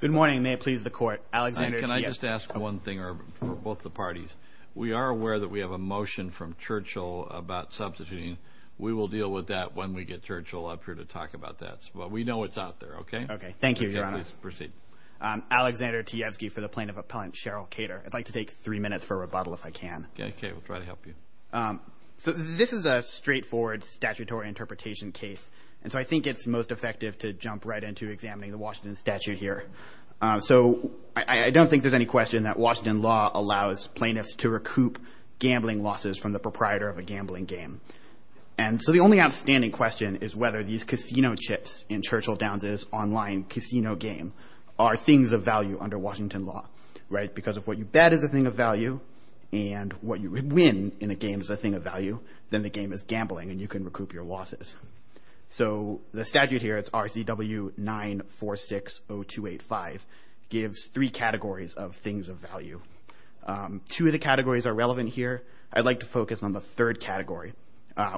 Good morning. May it please the Court. Alexander T. Can I just ask one thing for both the parties? We are aware that we have a motion from Churchill about substituting. We will deal with that when we get Churchill up here to talk about that. But we know it's out there, okay? Okay. Thank you, Your Honor. Please proceed. Alexander T. Tiesky for the Plaintiff Appellant, Cheryl Kater. I'd like to take three minutes for a rebuttal if I can. Okay. We'll try to help you. So this is a straightforward statutory interpretation case, and so I think it's most effective to So I don't think there's any question that Washington law allows plaintiffs to recoup gambling losses from the proprietor of a gambling game. And so the only outstanding question is whether these casino chips in Churchill Downs' online casino game are things of value under Washington law, right? Because if what you bet is a thing of value and what you win in a game is a thing of value, then the game is gambling and you can recoup your losses. So the statute here, it's RCW 946-0285, gives three categories of things of value. Two of the categories are relevant here. I'd like to focus on the third category,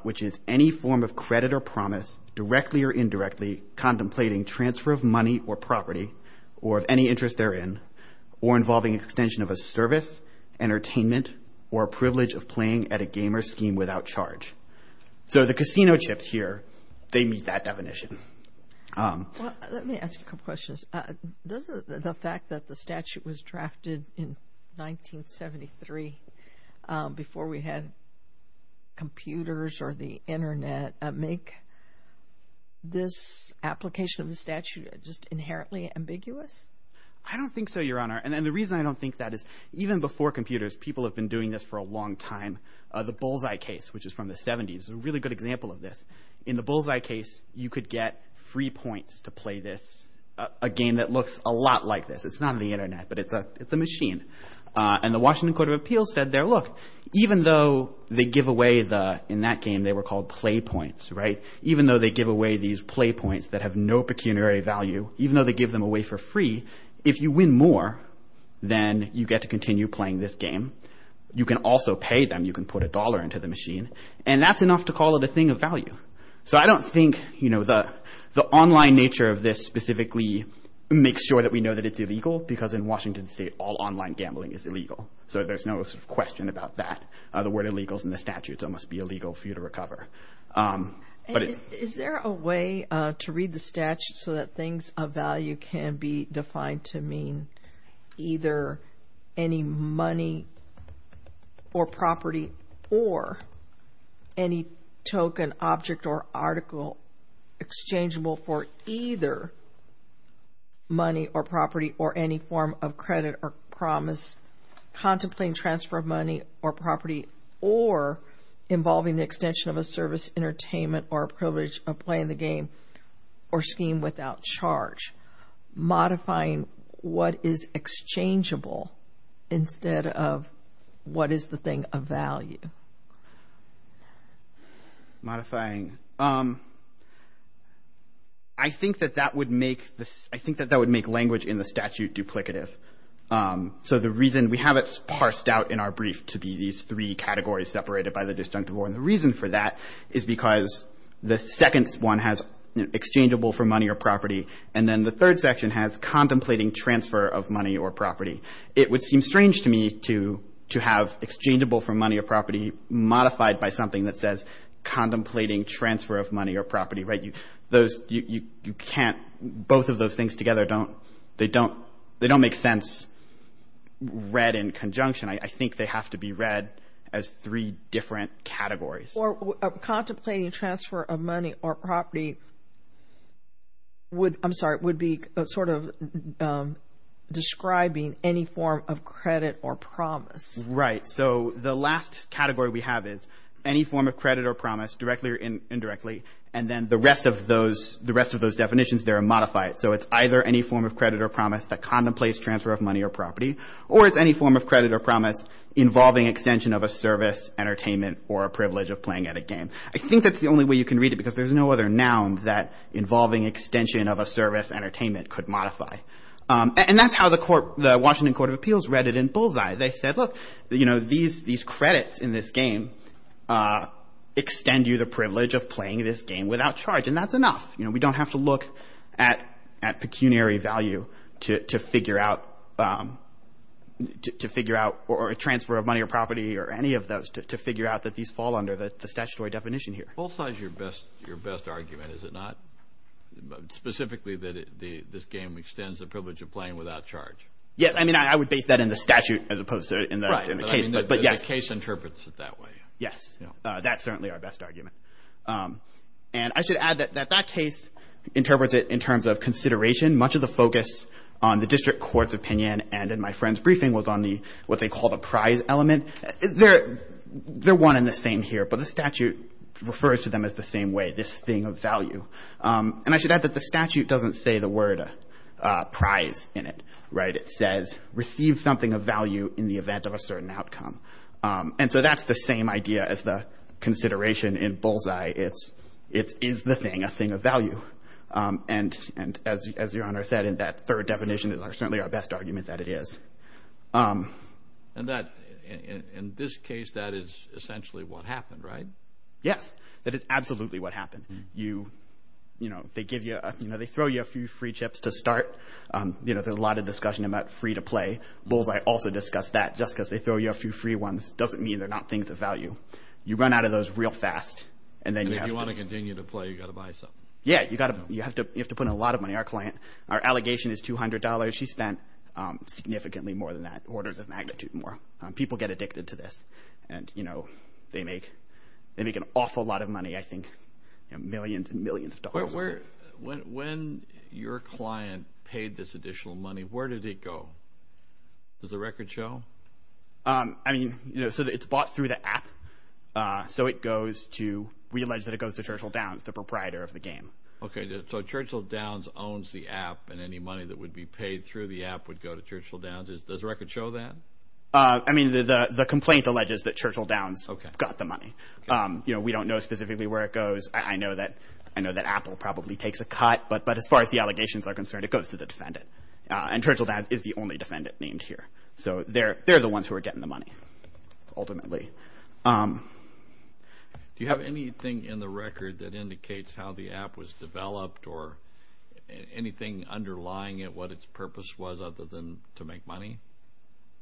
which is any form of credit or promise, directly or indirectly, contemplating transfer of money or property, or of any interest therein, or involving extension of a service, entertainment, or privilege of playing at a game or scheme without charge. So the casino chips here, they meet that definition. Well, let me ask a couple questions. Doesn't the fact that the statute was drafted in 1973, before we had computers or the internet, make this application of the statute just inherently ambiguous? I don't think so, Your Honor. And the reason I don't think that is even before computers, people have been doing this for a long time. The bullseye case, which is from the 70s, is a really good example of this. In the bullseye case, you could get free points to play this, a game that looks a lot like this. It's not on the internet, but it's a machine. And the Washington Court of Appeals said there, look, even though they give away the, in that game they were called play points, right? Even though they give away these play points that have no pecuniary value, even though they give them away for free, if you win more, then you get to continue playing this game. You can also pay them. You can put a dollar into the machine. And that's enough to call it a thing of value. So I don't think, you know, the online nature of this specifically makes sure that we know that it's illegal, because in Washington State, all online gambling is illegal. So there's no question about that. The word illegal is in the statute, so it must be illegal for you to recover. Is there a way to read the statute so that things of value can be defined to mean either any money or property or any token, object, or article exchangeable for either money or property or any form of credit or promise, contemplating transfer of money or property or involving the extension of a service, entertainment, or privilege of playing the game or scheme without charge, modifying what is exchangeable instead of what is the thing of value? Modifying. I think that that would make language in the statute duplicative. So the reason we have it parsed out in our brief to be these three categories separated by the disjunctive order, the reason for that is because the second one has exchangeable for money or property, and then the third section has contemplating transfer of money or property. It would seem strange to me to have exchangeable for money or property modified by something that says contemplating transfer of money or property, right? Those, you can't, both of those things together don't, they don't make sense read in conjunction. I think they have to be read as three different categories. Or contemplating transfer of money or property would, I'm sorry, would be sort of describing any form of credit or promise. Right. So the last category we have is any form of credit or promise directly or indirectly, and then the rest of those, the rest of those definitions, they're modified. So it's either any form of credit or promise that contemplates transfer of money or property, or it's any form of credit or promise involving extension of a service, entertainment, or privilege of playing at a game. I think that's the only way you can read it, because there's no other noun that involving extension of a service, entertainment, could modify. And that's how the court, the Washington Court of Appeals read it in bullseye. They said, look, you know, these, these credits in this game extend you the privilege of playing this game without charge, and that's enough. You know, we don't have to look at, at pecuniary value to figure out, to figure out, or a transfer of money or property or any of those to, to figure out that these fall under the statutory definition here. Bullseye is your best, your best argument, is it not? Specifically that it, the, this game extends the privilege of playing without charge. Yes. I mean, I, I would base that in the statute as opposed to in the, in the case, but, but yes. The case interprets it that way. Yes. That's certainly our best argument. And I should add that, that that case interprets it in terms of consideration. Much of the focus on the district court's opinion and in my friend's briefing was on the, what they called a prize element. They're, they're one and the same here, but the statute refers to them as the same way, this thing of value. And I should add that the statute doesn't say the word prize in it, right? It says receive something of value in the event of a certain outcome. And so that's the same idea as the consideration in bullseye. It's, it's, is the thing, a thing of value. And, and as, as Your Honor said in that third definition, it's certainly our best argument that it is. And that, in this case, that is essentially what happened, right? Yes. That is absolutely what happened. You, you know, they give you a, you know, they throw you a few free chips to start. You know, there's a lot of discussion about free to play. Bullseye also discussed that just because they throw you a few free ones doesn't mean they're not things of value. You run out of those real fast. And then you have to. And if you want to continue to play, you've got to buy something. Yeah. You've got to, you have to, you have to put in a lot of money. Our client, our allegation is $200. She spent significantly more than that, orders of magnitude more. People get addicted to this. And, you know, they make, they make an awful lot of money, I think, you know, millions and millions of dollars. But where, when, when your client paid this additional money, where did it go? Does the record show? I mean, you know, so it's bought through the app. So it goes to, we allege that it goes to Churchill Downs, the proprietor of the game. Okay. So, so Churchill Downs owns the app and any money that would be paid through the app would go to Churchill Downs. Does the record show that? I mean, the, the complaint alleges that Churchill Downs got the money. You know, we don't know specifically where it goes. I know that, I know that Apple probably takes a cut, but, but as far as the allegations are concerned, it goes to the defendant. And Churchill Downs is the only defendant named here. So they're, they're the ones who are getting the money, ultimately. Do you have anything in the record that indicates how the app was developed or anything underlying it, what its purpose was other than to make money?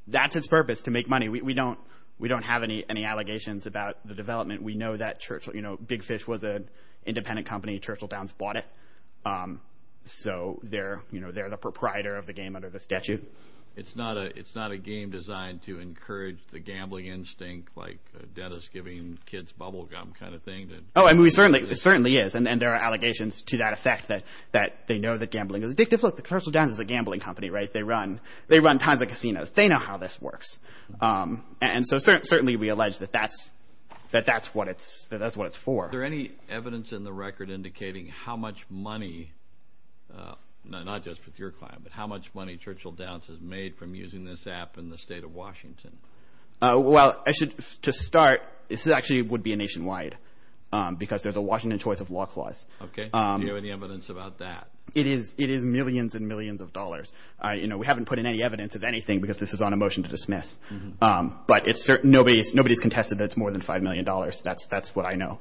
That's its purpose, to make money. We, we don't, we don't have any, any allegations about the development. We know that Churchill, you know, Big Fish was an independent company. Churchill Downs bought it. So they're, you know, they're the proprietor of the game under the statute. It's not a, it's not a game designed to encourage the gambling instinct, like a dentist giving kids bubblegum kind of thing. Oh, I mean, we certainly, it certainly is. And there are allegations to that effect that, that they know that gambling is addictive. Look, the Churchill Downs is a gambling company, right? They run, they run tons of casinos. They know how this works. And so certainly, certainly we allege that that's, that that's what it's, that that's what it's for. Is there any evidence in the record indicating how much money, not just with your client, but how much money Churchill Downs has made from using this app in the state of Washington? Well, I should, to start, this actually would be a nationwide, because there's a Washington choice of law clause. Okay. Do you have any evidence about that? It is, it is millions and millions of dollars. You know, we haven't put in any evidence of anything because this is on a motion to dismiss. But it's certain, nobody, nobody's contested that it's more than $5 million. That's, that's what I know.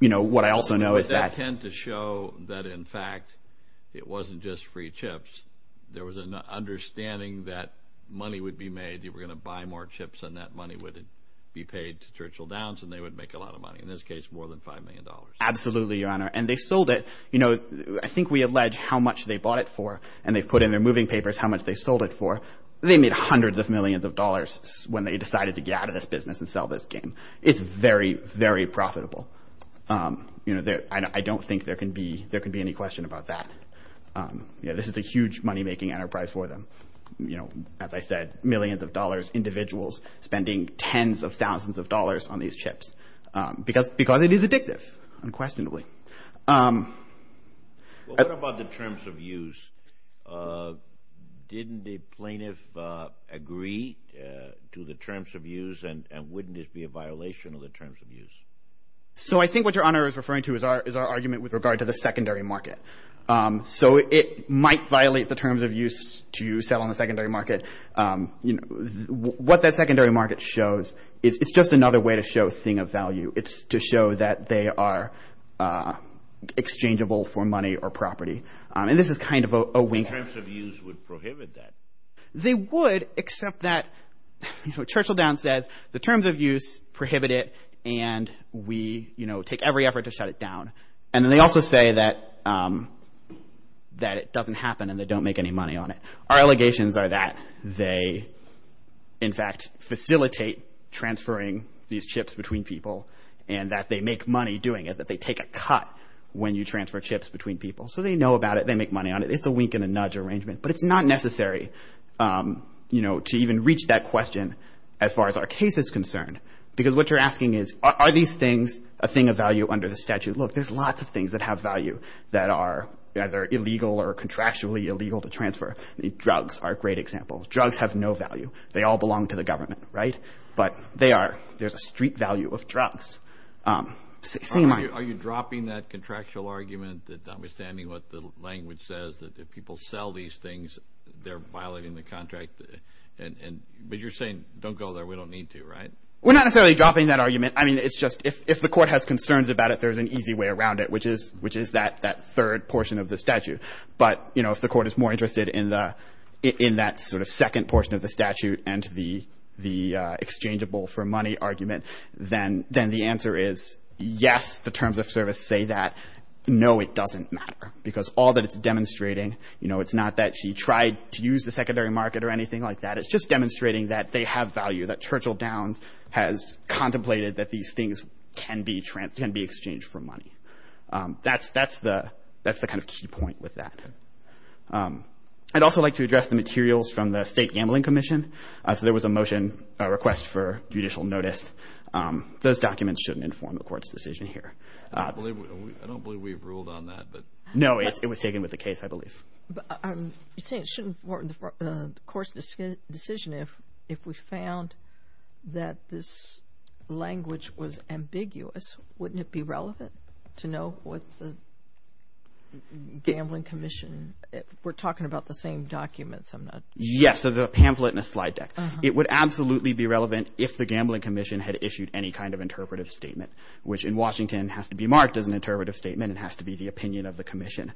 You know, what I also know is that. I tend to show that, in fact, it wasn't just free chips. There was an understanding that money would be made, you were going to buy more chips and that money would be paid to Churchill Downs and they would make a lot of money. In this case, more than $5 million. Absolutely, Your Honor. And they sold it. You know, I think we allege how much they bought it for. And they've put in their moving papers how much they sold it for. They made hundreds of millions of dollars when they decided to get out of this business and sell this game. It's very, very profitable. You know, I don't think there can be, there could be any question about that. You know, this is a huge money-making enterprise for them. You know, as I said, millions of dollars, individuals spending tens of thousands of dollars on these chips. Because it is addictive, unquestionably. Well, what about the terms of use? Didn't the plaintiff agree to the terms of use and wouldn't it be a violation of the terms of use? So, I think what Your Honor is referring to is our argument with regard to the secondary market. So, it might violate the terms of use to sell on the secondary market. What that secondary market shows is, it's just another way to show thing of value. It's to show that they are exchangeable for money or property. And this is kind of a wink. The terms of use would prohibit that. They would, except that, you know, Churchill Downs says, the terms of use prohibit it and we, you know, take every effort to shut it down. And they also say that it doesn't happen and they don't make any money on it. Our allegations are that they, in fact, facilitate transferring these chips between people and that they make money doing it, that they take a cut when you transfer chips between people. So they know about it. They make money on it. It's a wink and a nudge arrangement. But it's not necessary, you know, to even reach that question as far as our case is concerned. Because what you're asking is, are these things a thing of value under the statute? Look, there's lots of things that have value that are either illegal or contractually illegal to transfer. Drugs are a great example. Drugs have no value. They all belong to the government, right? But they are, there's a street value of drugs. Are you dropping that contractual argument that, notwithstanding what the language says, that if people sell these things, they're violating the contract and, but you're saying, don't go there. We don't need to, right? We're not necessarily dropping that argument. I mean, it's just, if the court has concerns about it, there's an easy way around it, which is, which is that, that third portion of the statute. But you know, if the court is more interested in the, in that sort of second portion of the statute and the, the exchangeable for money argument, then, then the answer is yes, the terms of service say that. No, it doesn't matter. Because all that it's demonstrating, you know, it's not that she tried to use the secondary market or anything like that. But it's just demonstrating that they have value, that Churchill Downs has contemplated that these things can be trans, can be exchanged for money. That's, that's the, that's the kind of key point with that. I'd also like to address the materials from the State Gambling Commission. So there was a motion, a request for judicial notice. Those documents shouldn't inform the court's decision here. I believe, I don't believe we've ruled on that, but. No, it was taken with the case, I believe. But I'm saying it shouldn't inform the court's decision if, if we found that this language was ambiguous, wouldn't it be relevant to know what the Gambling Commission, we're talking about the same documents, I'm not. Yes. So the pamphlet and the slide deck. It would absolutely be relevant if the Gambling Commission had issued any kind of interpretive statement, which in Washington has to be marked as an interpretive statement and has to be the opinion of the commission.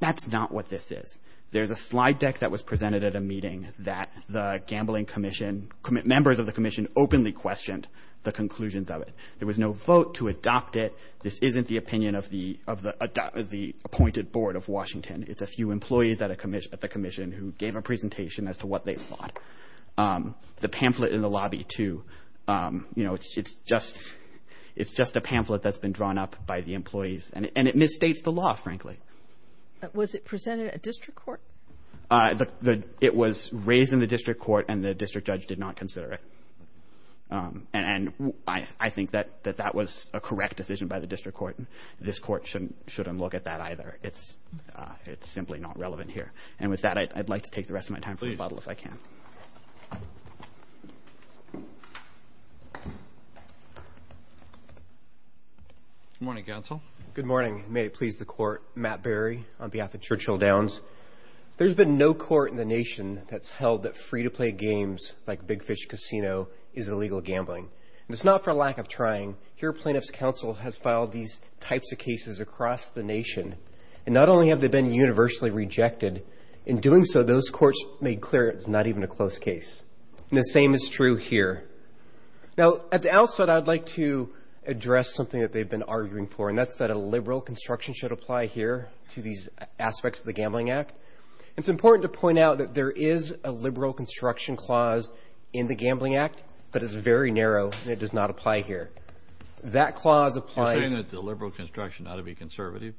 That's not what this is. There's a slide deck that was presented at a meeting that the Gambling Commission, members of the commission openly questioned the conclusions of it. There was no vote to adopt it. This isn't the opinion of the, of the appointed board of Washington. It's a few employees at a commission, at the commission who gave a presentation as to what they thought. The pamphlet in the lobby too, you know, it's, it's just, it's just a pamphlet that's been drawn up by the employees and it misstates the law, frankly. Was it presented at district court? It was raised in the district court and the district judge did not consider it. And I think that, that that was a correct decision by the district court. This court shouldn't, shouldn't look at that either. It's, it's simply not relevant here. And with that, I'd like to take the rest of my time for rebuttal, if I can. Good morning, counsel. Good morning. May it please the court. Matt Berry on behalf of Churchill Downs. There's been no court in the nation that's held that free to play games like Big Fish Casino is illegal gambling. And it's not for lack of trying. Here plaintiff's counsel has filed these types of cases across the nation. And not only have they been universally rejected, in doing so, those courts made clear it's not even a close case. And the same is true here. Now at the outset, I'd like to address something that they've been arguing for. And that's that a liberal construction should apply here to these aspects of the Gambling Act. It's important to point out that there is a liberal construction clause in the Gambling Act, but it's very narrow and it does not apply here. That clause applies. You're saying that the liberal construction ought to be conservative?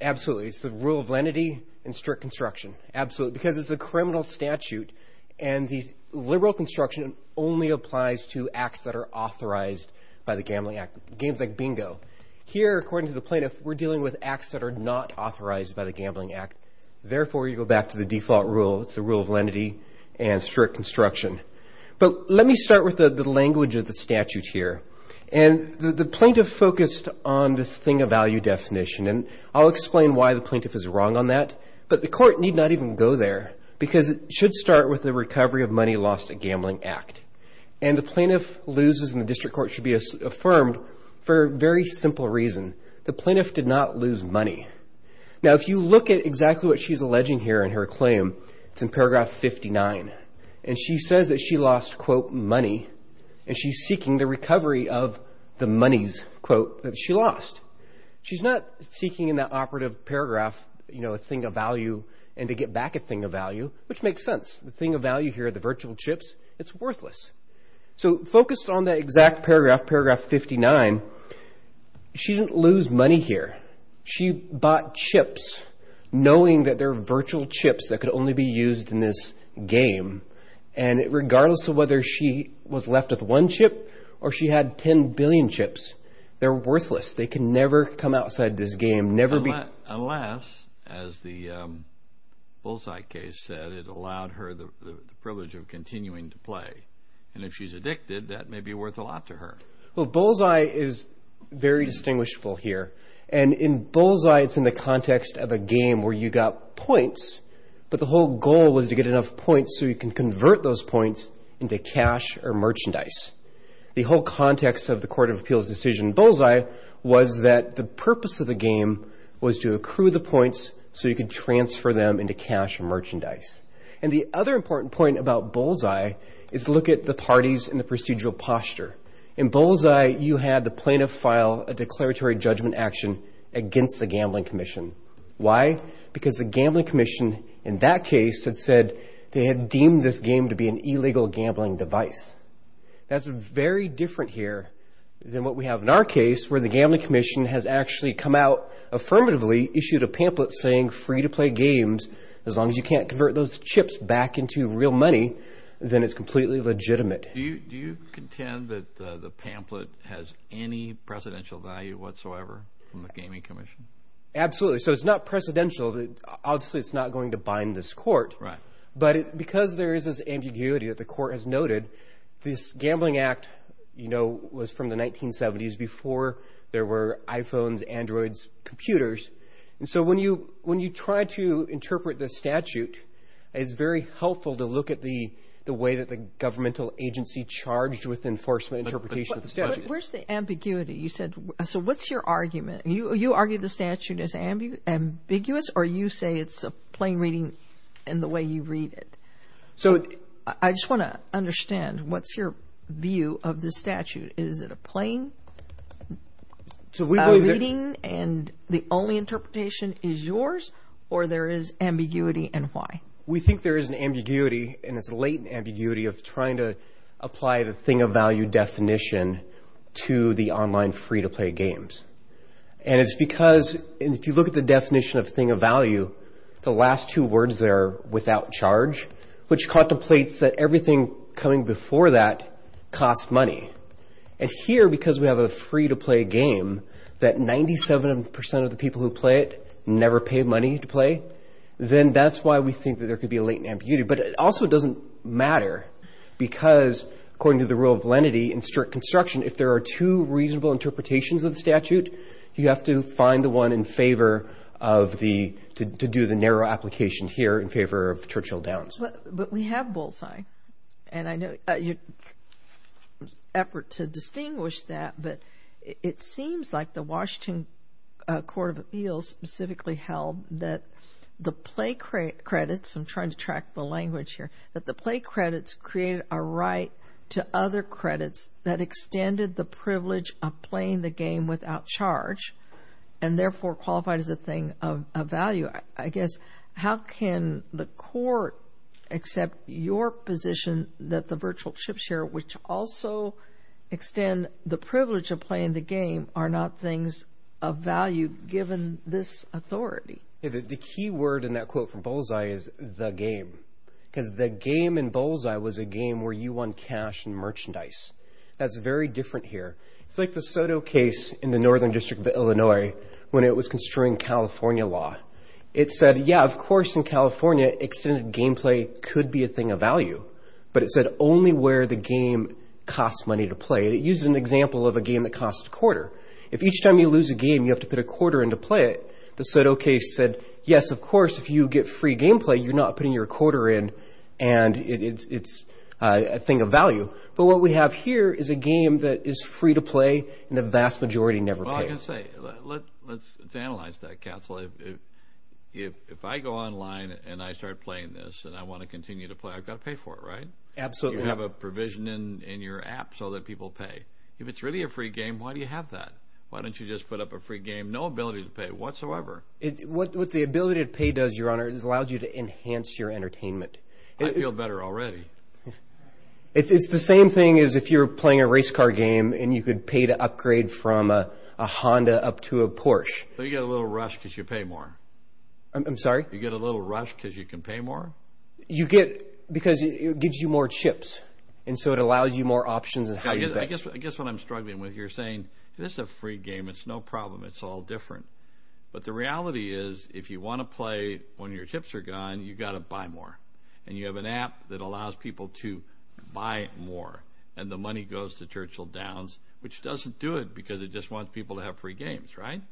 Absolutely. It's the rule of lenity and strict construction. Absolutely. Because it's a criminal statute and the liberal construction only applies to acts that are authorized by the Gambling Act. Games like bingo. Here, according to the plaintiff, we're dealing with acts that are not authorized by the Gambling Act. Therefore, you go back to the default rule. It's the rule of lenity and strict construction. But let me start with the language of the statute here. And the plaintiff focused on this thing of value definition. And I'll explain why the plaintiff is wrong on that. But the court need not even go there because it should start with the recovery of money lost at Gambling Act. And the plaintiff loses and the district court should be affirmed for a very simple reason. The plaintiff did not lose money. Now, if you look at exactly what she's alleging here in her claim, it's in paragraph 59. And she says that she lost, quote, money and she's seeking the recovery of the monies, quote, that she lost. She's not seeking in that operative paragraph, you know, a thing of value and to get back a thing of value, which makes sense. The thing of value here are the virtual chips. It's worthless. So focused on that exact paragraph, paragraph 59, she didn't lose money here. She bought chips knowing that they're virtual chips that could only be used in this game. And regardless of whether she was left with one chip or she had 10 billion chips, they're worthless. They can never come outside this game, never be. Unless, as the Bullseye case said, it allowed her the privilege of continuing to play. And if she's addicted, that may be worth a lot to her. Well, Bullseye is very distinguishable here. And in Bullseye, it's in the context of a game where you got points, but the whole goal was to get enough points so you can convert those points into cash or merchandise. The whole context of the Court of Appeals decision in Bullseye was that the purpose of the game was to accrue the points so you could transfer them into cash or merchandise. And the other important point about Bullseye is to look at the parties and the procedural posture. In Bullseye, you had the plaintiff file a declaratory judgment action against the gambling commission. Why? Because the gambling commission, in that case, had said they had deemed this game to be an That's very different here than what we have in our case, where the gambling commission has actually come out affirmatively, issued a pamphlet saying, free to play games, as long as you can't convert those chips back into real money, then it's completely legitimate. Do you contend that the pamphlet has any precedential value whatsoever from the gaming commission? Absolutely. So it's not precedential. Obviously, it's not going to bind this court. Right. But because there is this ambiguity that the court has noted, this gambling act, you know, was from the 1970s before there were iPhones, Androids, computers. And so when you try to interpret the statute, it's very helpful to look at the way that the governmental agency charged with enforcement interpretation of the statute. Where's the ambiguity? You said, so what's your argument? You argue the statute is ambiguous or you say it's a plain reading in the way you read it? So I just want to understand, what's your view of the statute? Is it a plain reading and the only interpretation is yours or there is ambiguity and why? We think there is an ambiguity and it's a latent ambiguity of trying to apply the thing And it's because if you look at the definition of thing of value, the last two words there without charge, which contemplates that everything coming before that costs money. And here, because we have a free to play game that 97% of the people who play it never pay money to play, then that's why we think that there could be a latent ambiguity. But it also doesn't matter because according to the rule of lenity and strict construction, if there are two reasonable interpretations of the statute, you have to find the one in favor of the, to do the narrow application here in favor of Churchill Downs. But we have bullseye and I know your effort to distinguish that, but it seems like the Washington Court of Appeals specifically held that the play credits, I'm trying to track the language here, that the play credits created a right to other credits that extended the privilege of playing the game without charge and therefore qualified as a thing of value. I guess, how can the court accept your position that the virtual chips here, which also extend the privilege of playing the game, are not things of value given this authority? The key word in that quote from bullseye is the game, because the game in bullseye was a game where you won cash and merchandise. That's very different here. It's like the Soto case in the Northern District of Illinois when it was construing California law. It said, yeah, of course in California, extended gameplay could be a thing of value, but it said only where the game costs money to play. It uses an example of a game that costs a quarter. If each time you lose a game, you have to put a quarter in to play it. The Soto case said, yes, of course, if you get free gameplay, you're not putting your quarter in and it's a thing of value, but what we have here is a game that is free to play and the vast majority never play it. Well, I can say, let's analyze that, Castle. If I go online and I start playing this and I want to continue to play, I've got to pay for it, right? Absolutely. You have a provision in your app so that people pay. If it's really a free game, why do you have that? Why don't you just put up a free game, no ability to pay whatsoever. What the ability to pay does, your honor, is it allows you to enhance your entertainment. I feel better already. It's the same thing as if you were playing a race car game and you could pay to upgrade from a Honda up to a Porsche. You get a little rush because you pay more. I'm sorry? You get a little rush because you can pay more? You get, because it gives you more chips and so it allows you more options in how you pay. I guess what I'm struggling with, you're saying, this is a free game. It's no problem. It's all different. But the reality is, if you want to play when your chips are gone, you've got to buy more. And you have an app that allows people to buy more and the money goes to Churchill Downs, which doesn't do it because it just wants people to have free games, right?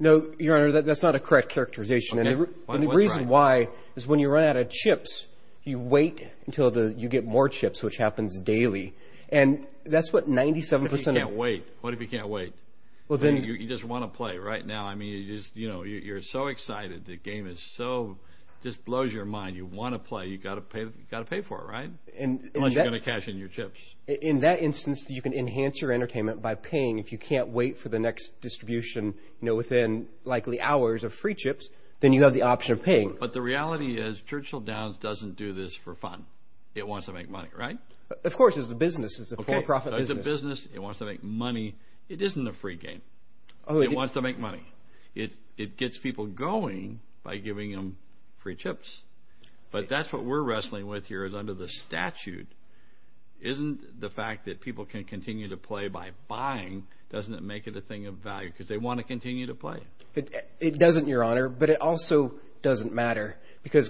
No, your honor. That's not a correct characterization. And the reason why is when you run out of chips, you wait until you get more chips, which happens daily. And that's what 97% of... What if you can't wait? What if you can't wait? Well, then... You just want to play right now. I mean, you're so excited, the game just blows your mind. You want to play. You've got to pay for it, right? Unless you're going to cash in your chips. In that instance, you can enhance your entertainment by paying. If you can't wait for the next distribution within likely hours of free chips, then you have the option of paying. But the reality is, Churchill Downs doesn't do this for fun. It wants to make money, right? Of course. It's a business. It's a for-profit business. It's a business. It wants to make money. It isn't a free game. It wants to make money. It gets people going by giving them free chips. But that's what we're wrestling with here is under the statute, isn't the fact that people can continue to play by buying, doesn't it make it a thing of value because they want to continue to play? It doesn't, your honor. But it also doesn't matter.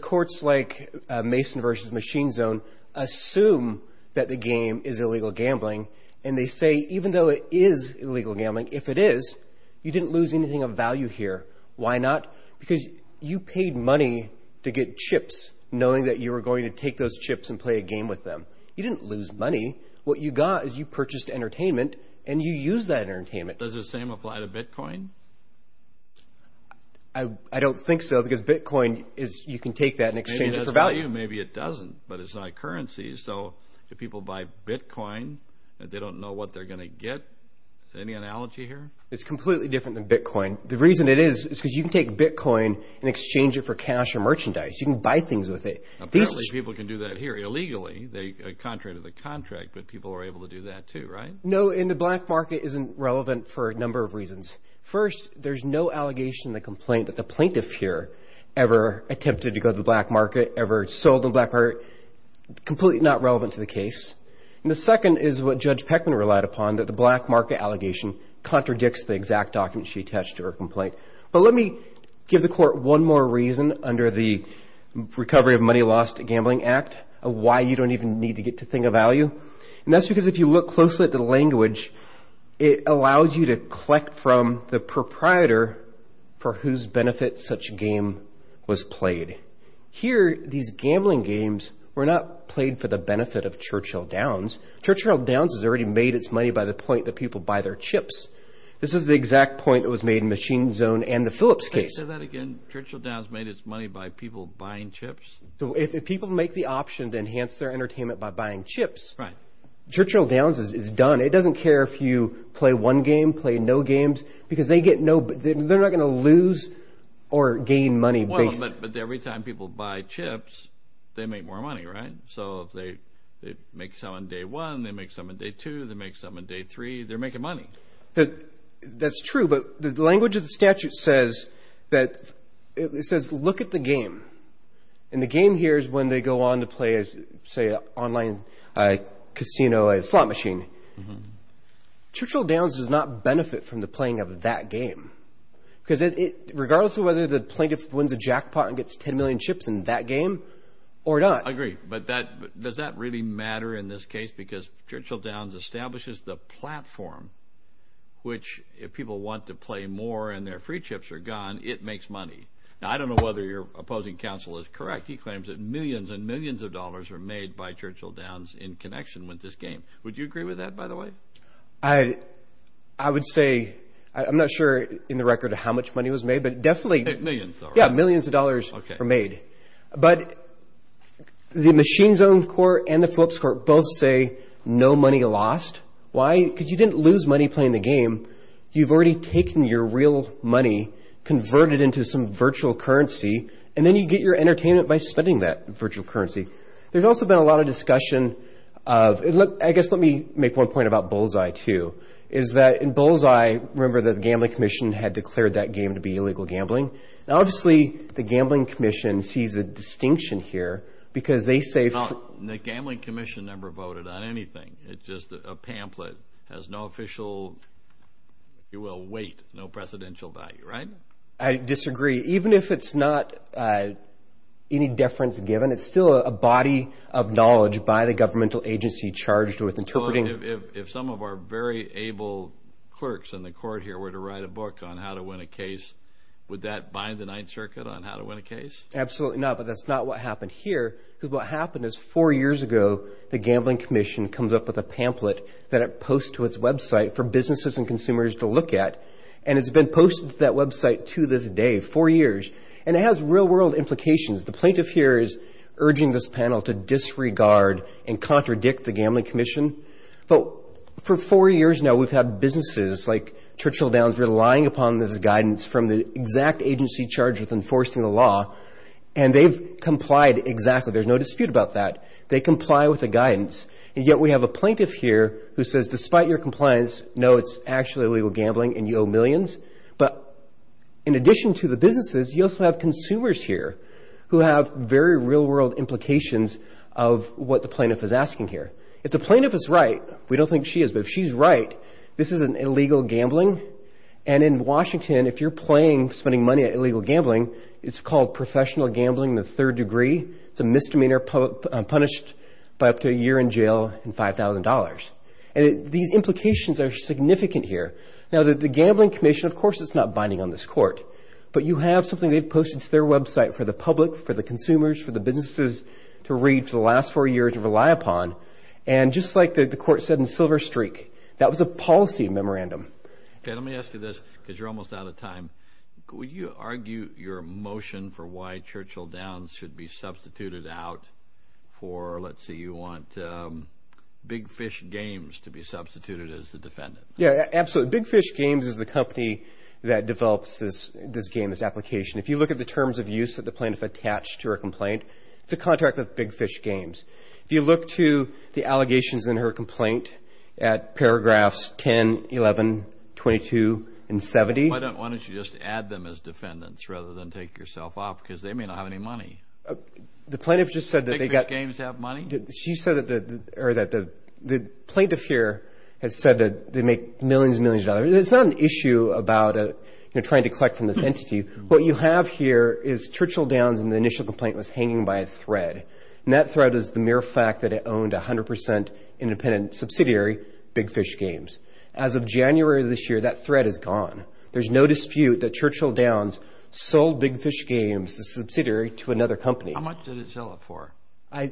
Courts like Mason v. Machine Zone assume that the game is illegal gambling and they say even though it is illegal gambling, if it is, you didn't lose anything of value here. Why not? Because you paid money to get chips knowing that you were going to take those chips and play a game with them. You didn't lose money. What you got is you purchased entertainment and you used that entertainment. Does the same apply to Bitcoin? I don't think so because Bitcoin is, you can take that and exchange it for value. Maybe it doesn't, but it's not a currency, so if people buy Bitcoin, they don't know what they're going to get. Is there any analogy here? It's completely different than Bitcoin. The reason it is is because you can take Bitcoin and exchange it for cash or merchandise. You can buy things with it. Apparently people can do that here illegally, contrary to the contract, but people are able to do that too, right? No, and the black market isn't relevant for a number of reasons. First, there's no allegation in the complaint that the plaintiff here ever attempted to go to the black market, ever sold the black market. Completely not relevant to the case. The second is what Judge Peckman relied upon, that the black market allegation contradicts the exact document she attached to her complaint, but let me give the court one more reason under the Recovery of Money Lost Gambling Act, why you don't even need to get to think of value. And that's because if you look closely at the language, it allows you to collect from the proprietor for whose benefit such a game was played. Here these gambling games were not played for the benefit of Churchill Downs. Churchill Downs has already made its money by the point that people buy their chips. This is the exact point that was made in Machine Zone and the Phillips case. Say that again? Churchill Downs made its money by people buying chips? If people make the option to enhance their entertainment by buying chips, Churchill Downs is done. It doesn't care if you play one game, play no games, because they're not going to lose or gain money. Well, but every time people buy chips, they make more money, right? So if they make some on day one, they make some on day two, they make some on day three, they're making money. That's true, but the language of the statute says that, it says, look at the game. And the game here is when they go on to play, say, an online casino, a slot machine. Churchill Downs does not benefit from the playing of that game, because regardless of whether the plaintiff wins a jackpot and gets 10 million chips in that game or not. I agree, but does that really matter in this case? Because Churchill Downs establishes the platform, which if people want to play more and their free chips are gone, it makes money. Now, I don't know whether your opposing counsel is correct. He claims that millions and millions of dollars are made by Churchill Downs in connection with this game. Would you agree with that, by the way? I would say, I'm not sure in the record of how much money was made, but definitely- Millions, all right. Yeah, millions of dollars are made. But the Machine's Own Court and the Phillips Court both say no money lost. Why? Because you didn't lose money playing the game. You've already taken your real money, converted it into some virtual currency, and then you get your entertainment by spending that virtual currency. There's also been a lot of discussion of, I guess let me make one point about Bullseye, too, is that in Bullseye, remember that the Gambling Commission had declared that game to be illegal gambling. Now, obviously, the Gambling Commission sees a distinction here because they say- No, the Gambling Commission never voted on anything. It's just a pamphlet, has no official, if you will, weight, no precedential value, right? I disagree. Even if it's not any deference given, it's still a body of knowledge by the governmental agency charged with interpreting- So, if some of our very able clerks in the court here were to write a book on how to win a case, would that bind the Ninth Circuit on how to win a case? Absolutely not, but that's not what happened here. What happened is four years ago, the Gambling Commission comes up with a pamphlet that it posts to its website for businesses and consumers to look at, and it's been posted to that website to this day, four years, and it has real-world implications. The plaintiff here is urging this panel to disregard and contradict the Gambling Commission. But for four years now, we've had businesses like Churchill Downs relying upon this guidance from the exact agency charged with enforcing the law, and they've complied exactly. There's no dispute about that. They comply with the guidance, and yet we have a plaintiff here who says, despite your compliance, no, it's actually illegal gambling and you owe millions. But in addition to the businesses, you also have consumers here who have very real-world implications of what the plaintiff is asking here. If the plaintiff is right, we don't think she is, but if she's right, this isn't illegal gambling, and in Washington, if you're playing, spending money at illegal gambling, it's called professional gambling in the third degree. It's a misdemeanor punished by up to a year in jail and $5,000. These implications are significant here. Now, the Gambling Commission, of course, is not binding on this court, but you have something they've posted to their website for the public, for the consumers, for the businesses to read for the last four years to rely upon, and just like the court said in Silver Streak, that was a policy memorandum. Okay, let me ask you this, because you're almost out of time. Would you argue your motion for why Churchill Downs should be substituted out for, let's say you want Big Fish Games to be substituted as the defendant? Yeah, absolutely. Big Fish Games is the company that develops this game, this application. If you look at the terms of use that the plaintiff attached to her complaint, it's a contract with Big Fish Games. If you look to the allegations in her complaint at paragraphs 10, 11, 22, and 70- Why don't you just add them as defendants rather than take yourself off, because they may not have any money. The plaintiff just said that they got- Big Fish Games have money? She said that the plaintiff here has said that they make millions and millions of dollars. It's not an issue about trying to collect from this entity. What you have here is Churchill Downs and the initial complaint was hanging by a thread. That thread is the mere fact that it owned 100% independent subsidiary, Big Fish Games. As of January of this year, that thread is gone. There's no dispute that Churchill Downs sold Big Fish Games, the subsidiary, to another company. How much did it sell it for? I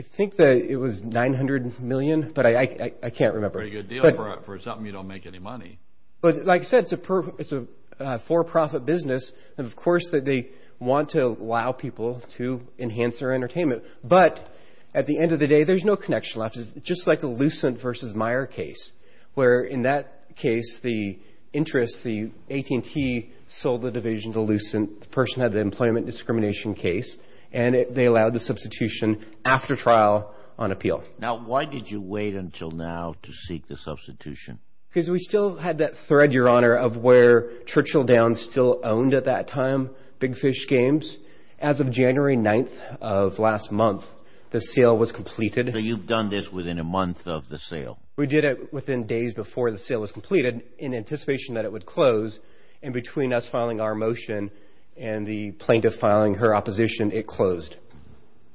think that it was $900 million, but I can't remember. Pretty good deal for something you don't make any money. Like I said, it's a for-profit business. Of course, they want to allow people to enhance their entertainment, but at the end of the day, there's no connection left. It's just like the Lucent v. Meyer case, where in that case, the interest, the AT&T sold the division to Lucent. The person had an employment discrimination case, and they allowed the substitution after trial on appeal. Now, why did you wait until now to seek the substitution? We still had that thread, Your Honor, of where Churchill Downs still owned at that time Big Fish Games. As of January 9th of last month, the sale was completed. You've done this within a month of the sale? We did it within days before the sale was completed, in anticipation that it would close, and between us filing our motion and the plaintiff filing her opposition, it closed.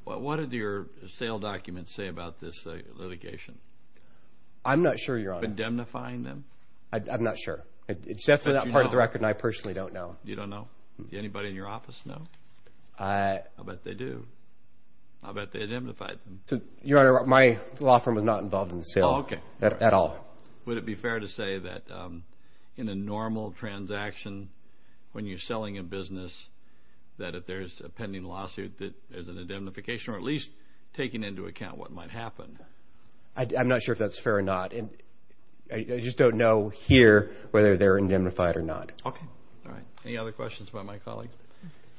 What did your sale documents say about this litigation? I'm not sure, Your Honor. Were you indemnifying them? I'm not sure. It's definitely not part of the record, and I personally don't know. You don't know? Did anybody in your office know? I'll bet they do. I'll bet they indemnified them. Your Honor, my law firm was not involved in the sale at all. Would it be fair to say that in a normal transaction, when you're selling a business, that if there's a pending lawsuit, that there's an indemnification, or at least taking into account what might happen? I'm not sure if that's fair or not. I just don't know here whether they're indemnified or not. Okay. All right. Any other questions about my colleague?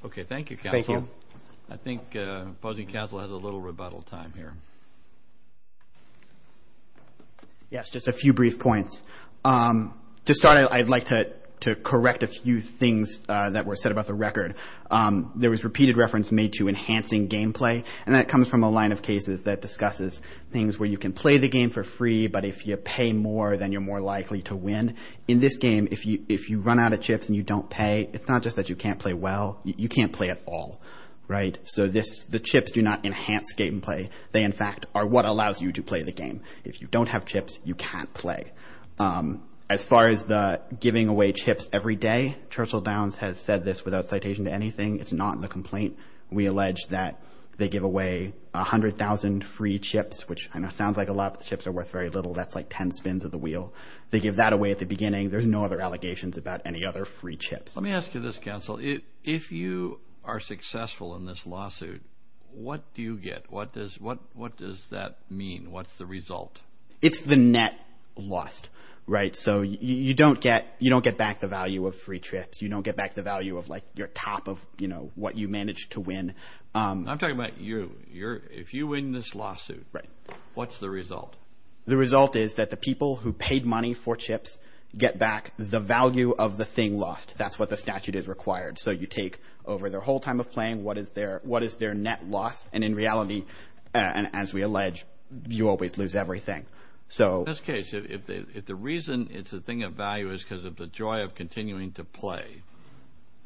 Okay. Thank you, counsel. Thank you. I think opposing counsel has a little rebuttal time here. Yes, just a few brief points. To start, I'd like to correct a few things that were said about the record. There was repeated reference made to enhancing gameplay, and that comes from a line of cases that discusses things where you can play the game for free, but if you pay more, then you're more likely to win. In this game, if you run out of chips and you don't pay, it's not just that you can't play well. You can't play at all, right? So the chips do not enhance gameplay. They, in fact, are what allows you to play the game. If you don't have chips, you can't play. As far as the giving away chips every day, Churchill Downs has said this without citation to anything. It's not in the complaint. We allege that they give away 100,000 free chips, which sounds like a lot, but the chips are worth very little. That's like 10 spins of the wheel. They give that away at the beginning. There's no other allegations about any other free chips. Let me ask you this, counsel. If you are successful in this lawsuit, what do you get? What does that mean? What's the result? It's the net lost, right? So you don't get back the value of free trips. You don't get back the value of your top of what you managed to win. I'm talking about you. If you win this lawsuit, what's the result? The result is that the people who paid money for chips get back the value of the thing lost. That's what the statute is required. So you take over their whole time of playing, what is their net loss, and in reality, as we allege, you always lose everything. So in this case, if the reason it's a thing of value is because of the joy of continuing to play,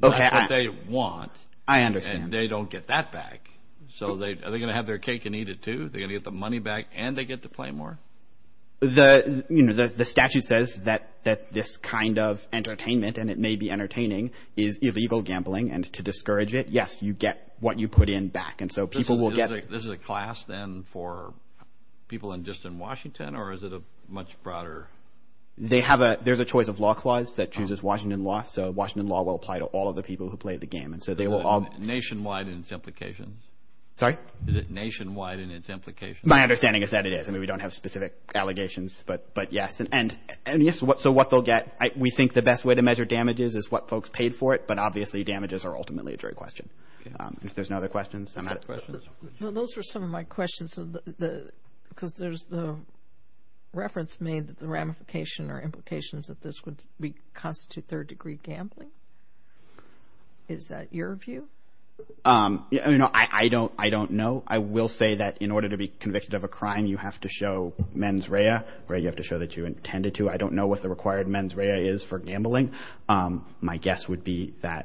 that's what they want, and they don't get that back. So are they going to have their cake and eat it, too? Are they going to get the money back and they get to play more? The statute says that this kind of entertainment, and it may be entertaining, is illegal gambling, and to discourage it, yes, you get what you put in back. And so people will get... This is a class, then, for people just in Washington, or is it a much broader... There's a choice of law clause that chooses Washington law, so Washington law will apply to all of the people who play the game, and so they will all... Nationwide in its implications? Sorry? Is it nationwide in its implications? My understanding is that it is. I mean, we don't have specific allegations, but yes, and yes, so what they'll get, we think the best way to measure damages is what folks paid for it, but obviously, damages are ultimately a jury question. Okay. If there's no other questions, I'm out of... Just a question. No, those were some of my questions, because there's the reference made that the ramification or implications of this would constitute third-degree gambling. Is that your view? I mean, no, I don't know. I will say that in order to be convicted of a crime, you have to show mens rea, or you have to show that you intended to. I don't know what the required mens rea is for gambling. My guess would be that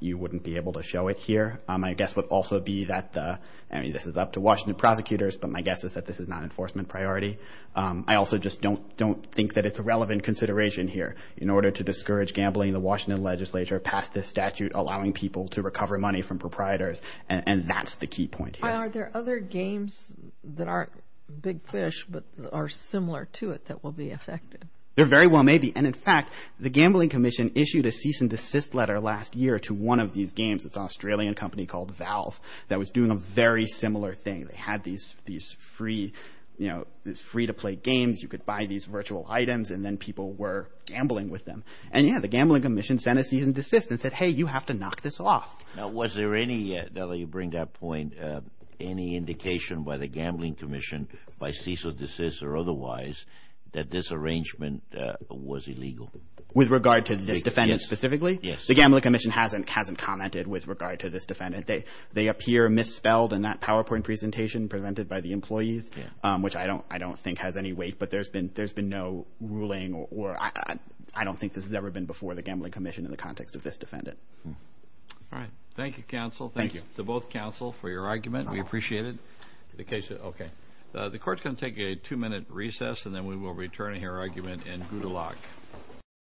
you wouldn't be able to show it here. My guess would also be that the... I mean, this is up to Washington prosecutors, but my guess is that this is not enforcement priority. I also just don't think that it's a relevant consideration here in order to discourage gambling. The Washington legislature passed this statute allowing people to recover money from proprietors, and that's the key point here. Are there other games that aren't big fish, but are similar to it that will be affected? There very well may be, and in fact, the Gambling Commission issued a cease and desist letter last year to one of these games, it's an Australian company called Valve, that was doing a very similar thing. They had these free to play games, you could buy these virtual items, and then people were gambling with them. And yeah, the Gambling Commission sent a cease and desist and said, hey, you have to knock this off. Now, was there any, now that you bring that point, any indication by the Gambling Commission, by cease or desist or otherwise, that this arrangement was illegal? With regard to this defendant specifically? Yes. The Gambling Commission hasn't commented with regard to this defendant. They appear misspelled in that PowerPoint presentation, presented by the employees, which I don't think has any weight, but there's been no ruling, or I don't think this has ever been before the Gambling Commission in the context of this defendant. All right. Thank you, counsel. Thank you. Thank you. To both counsel for your argument. We appreciate it. The case, okay. The court's going to take a two-minute recess, and then we will return to your argument in good luck.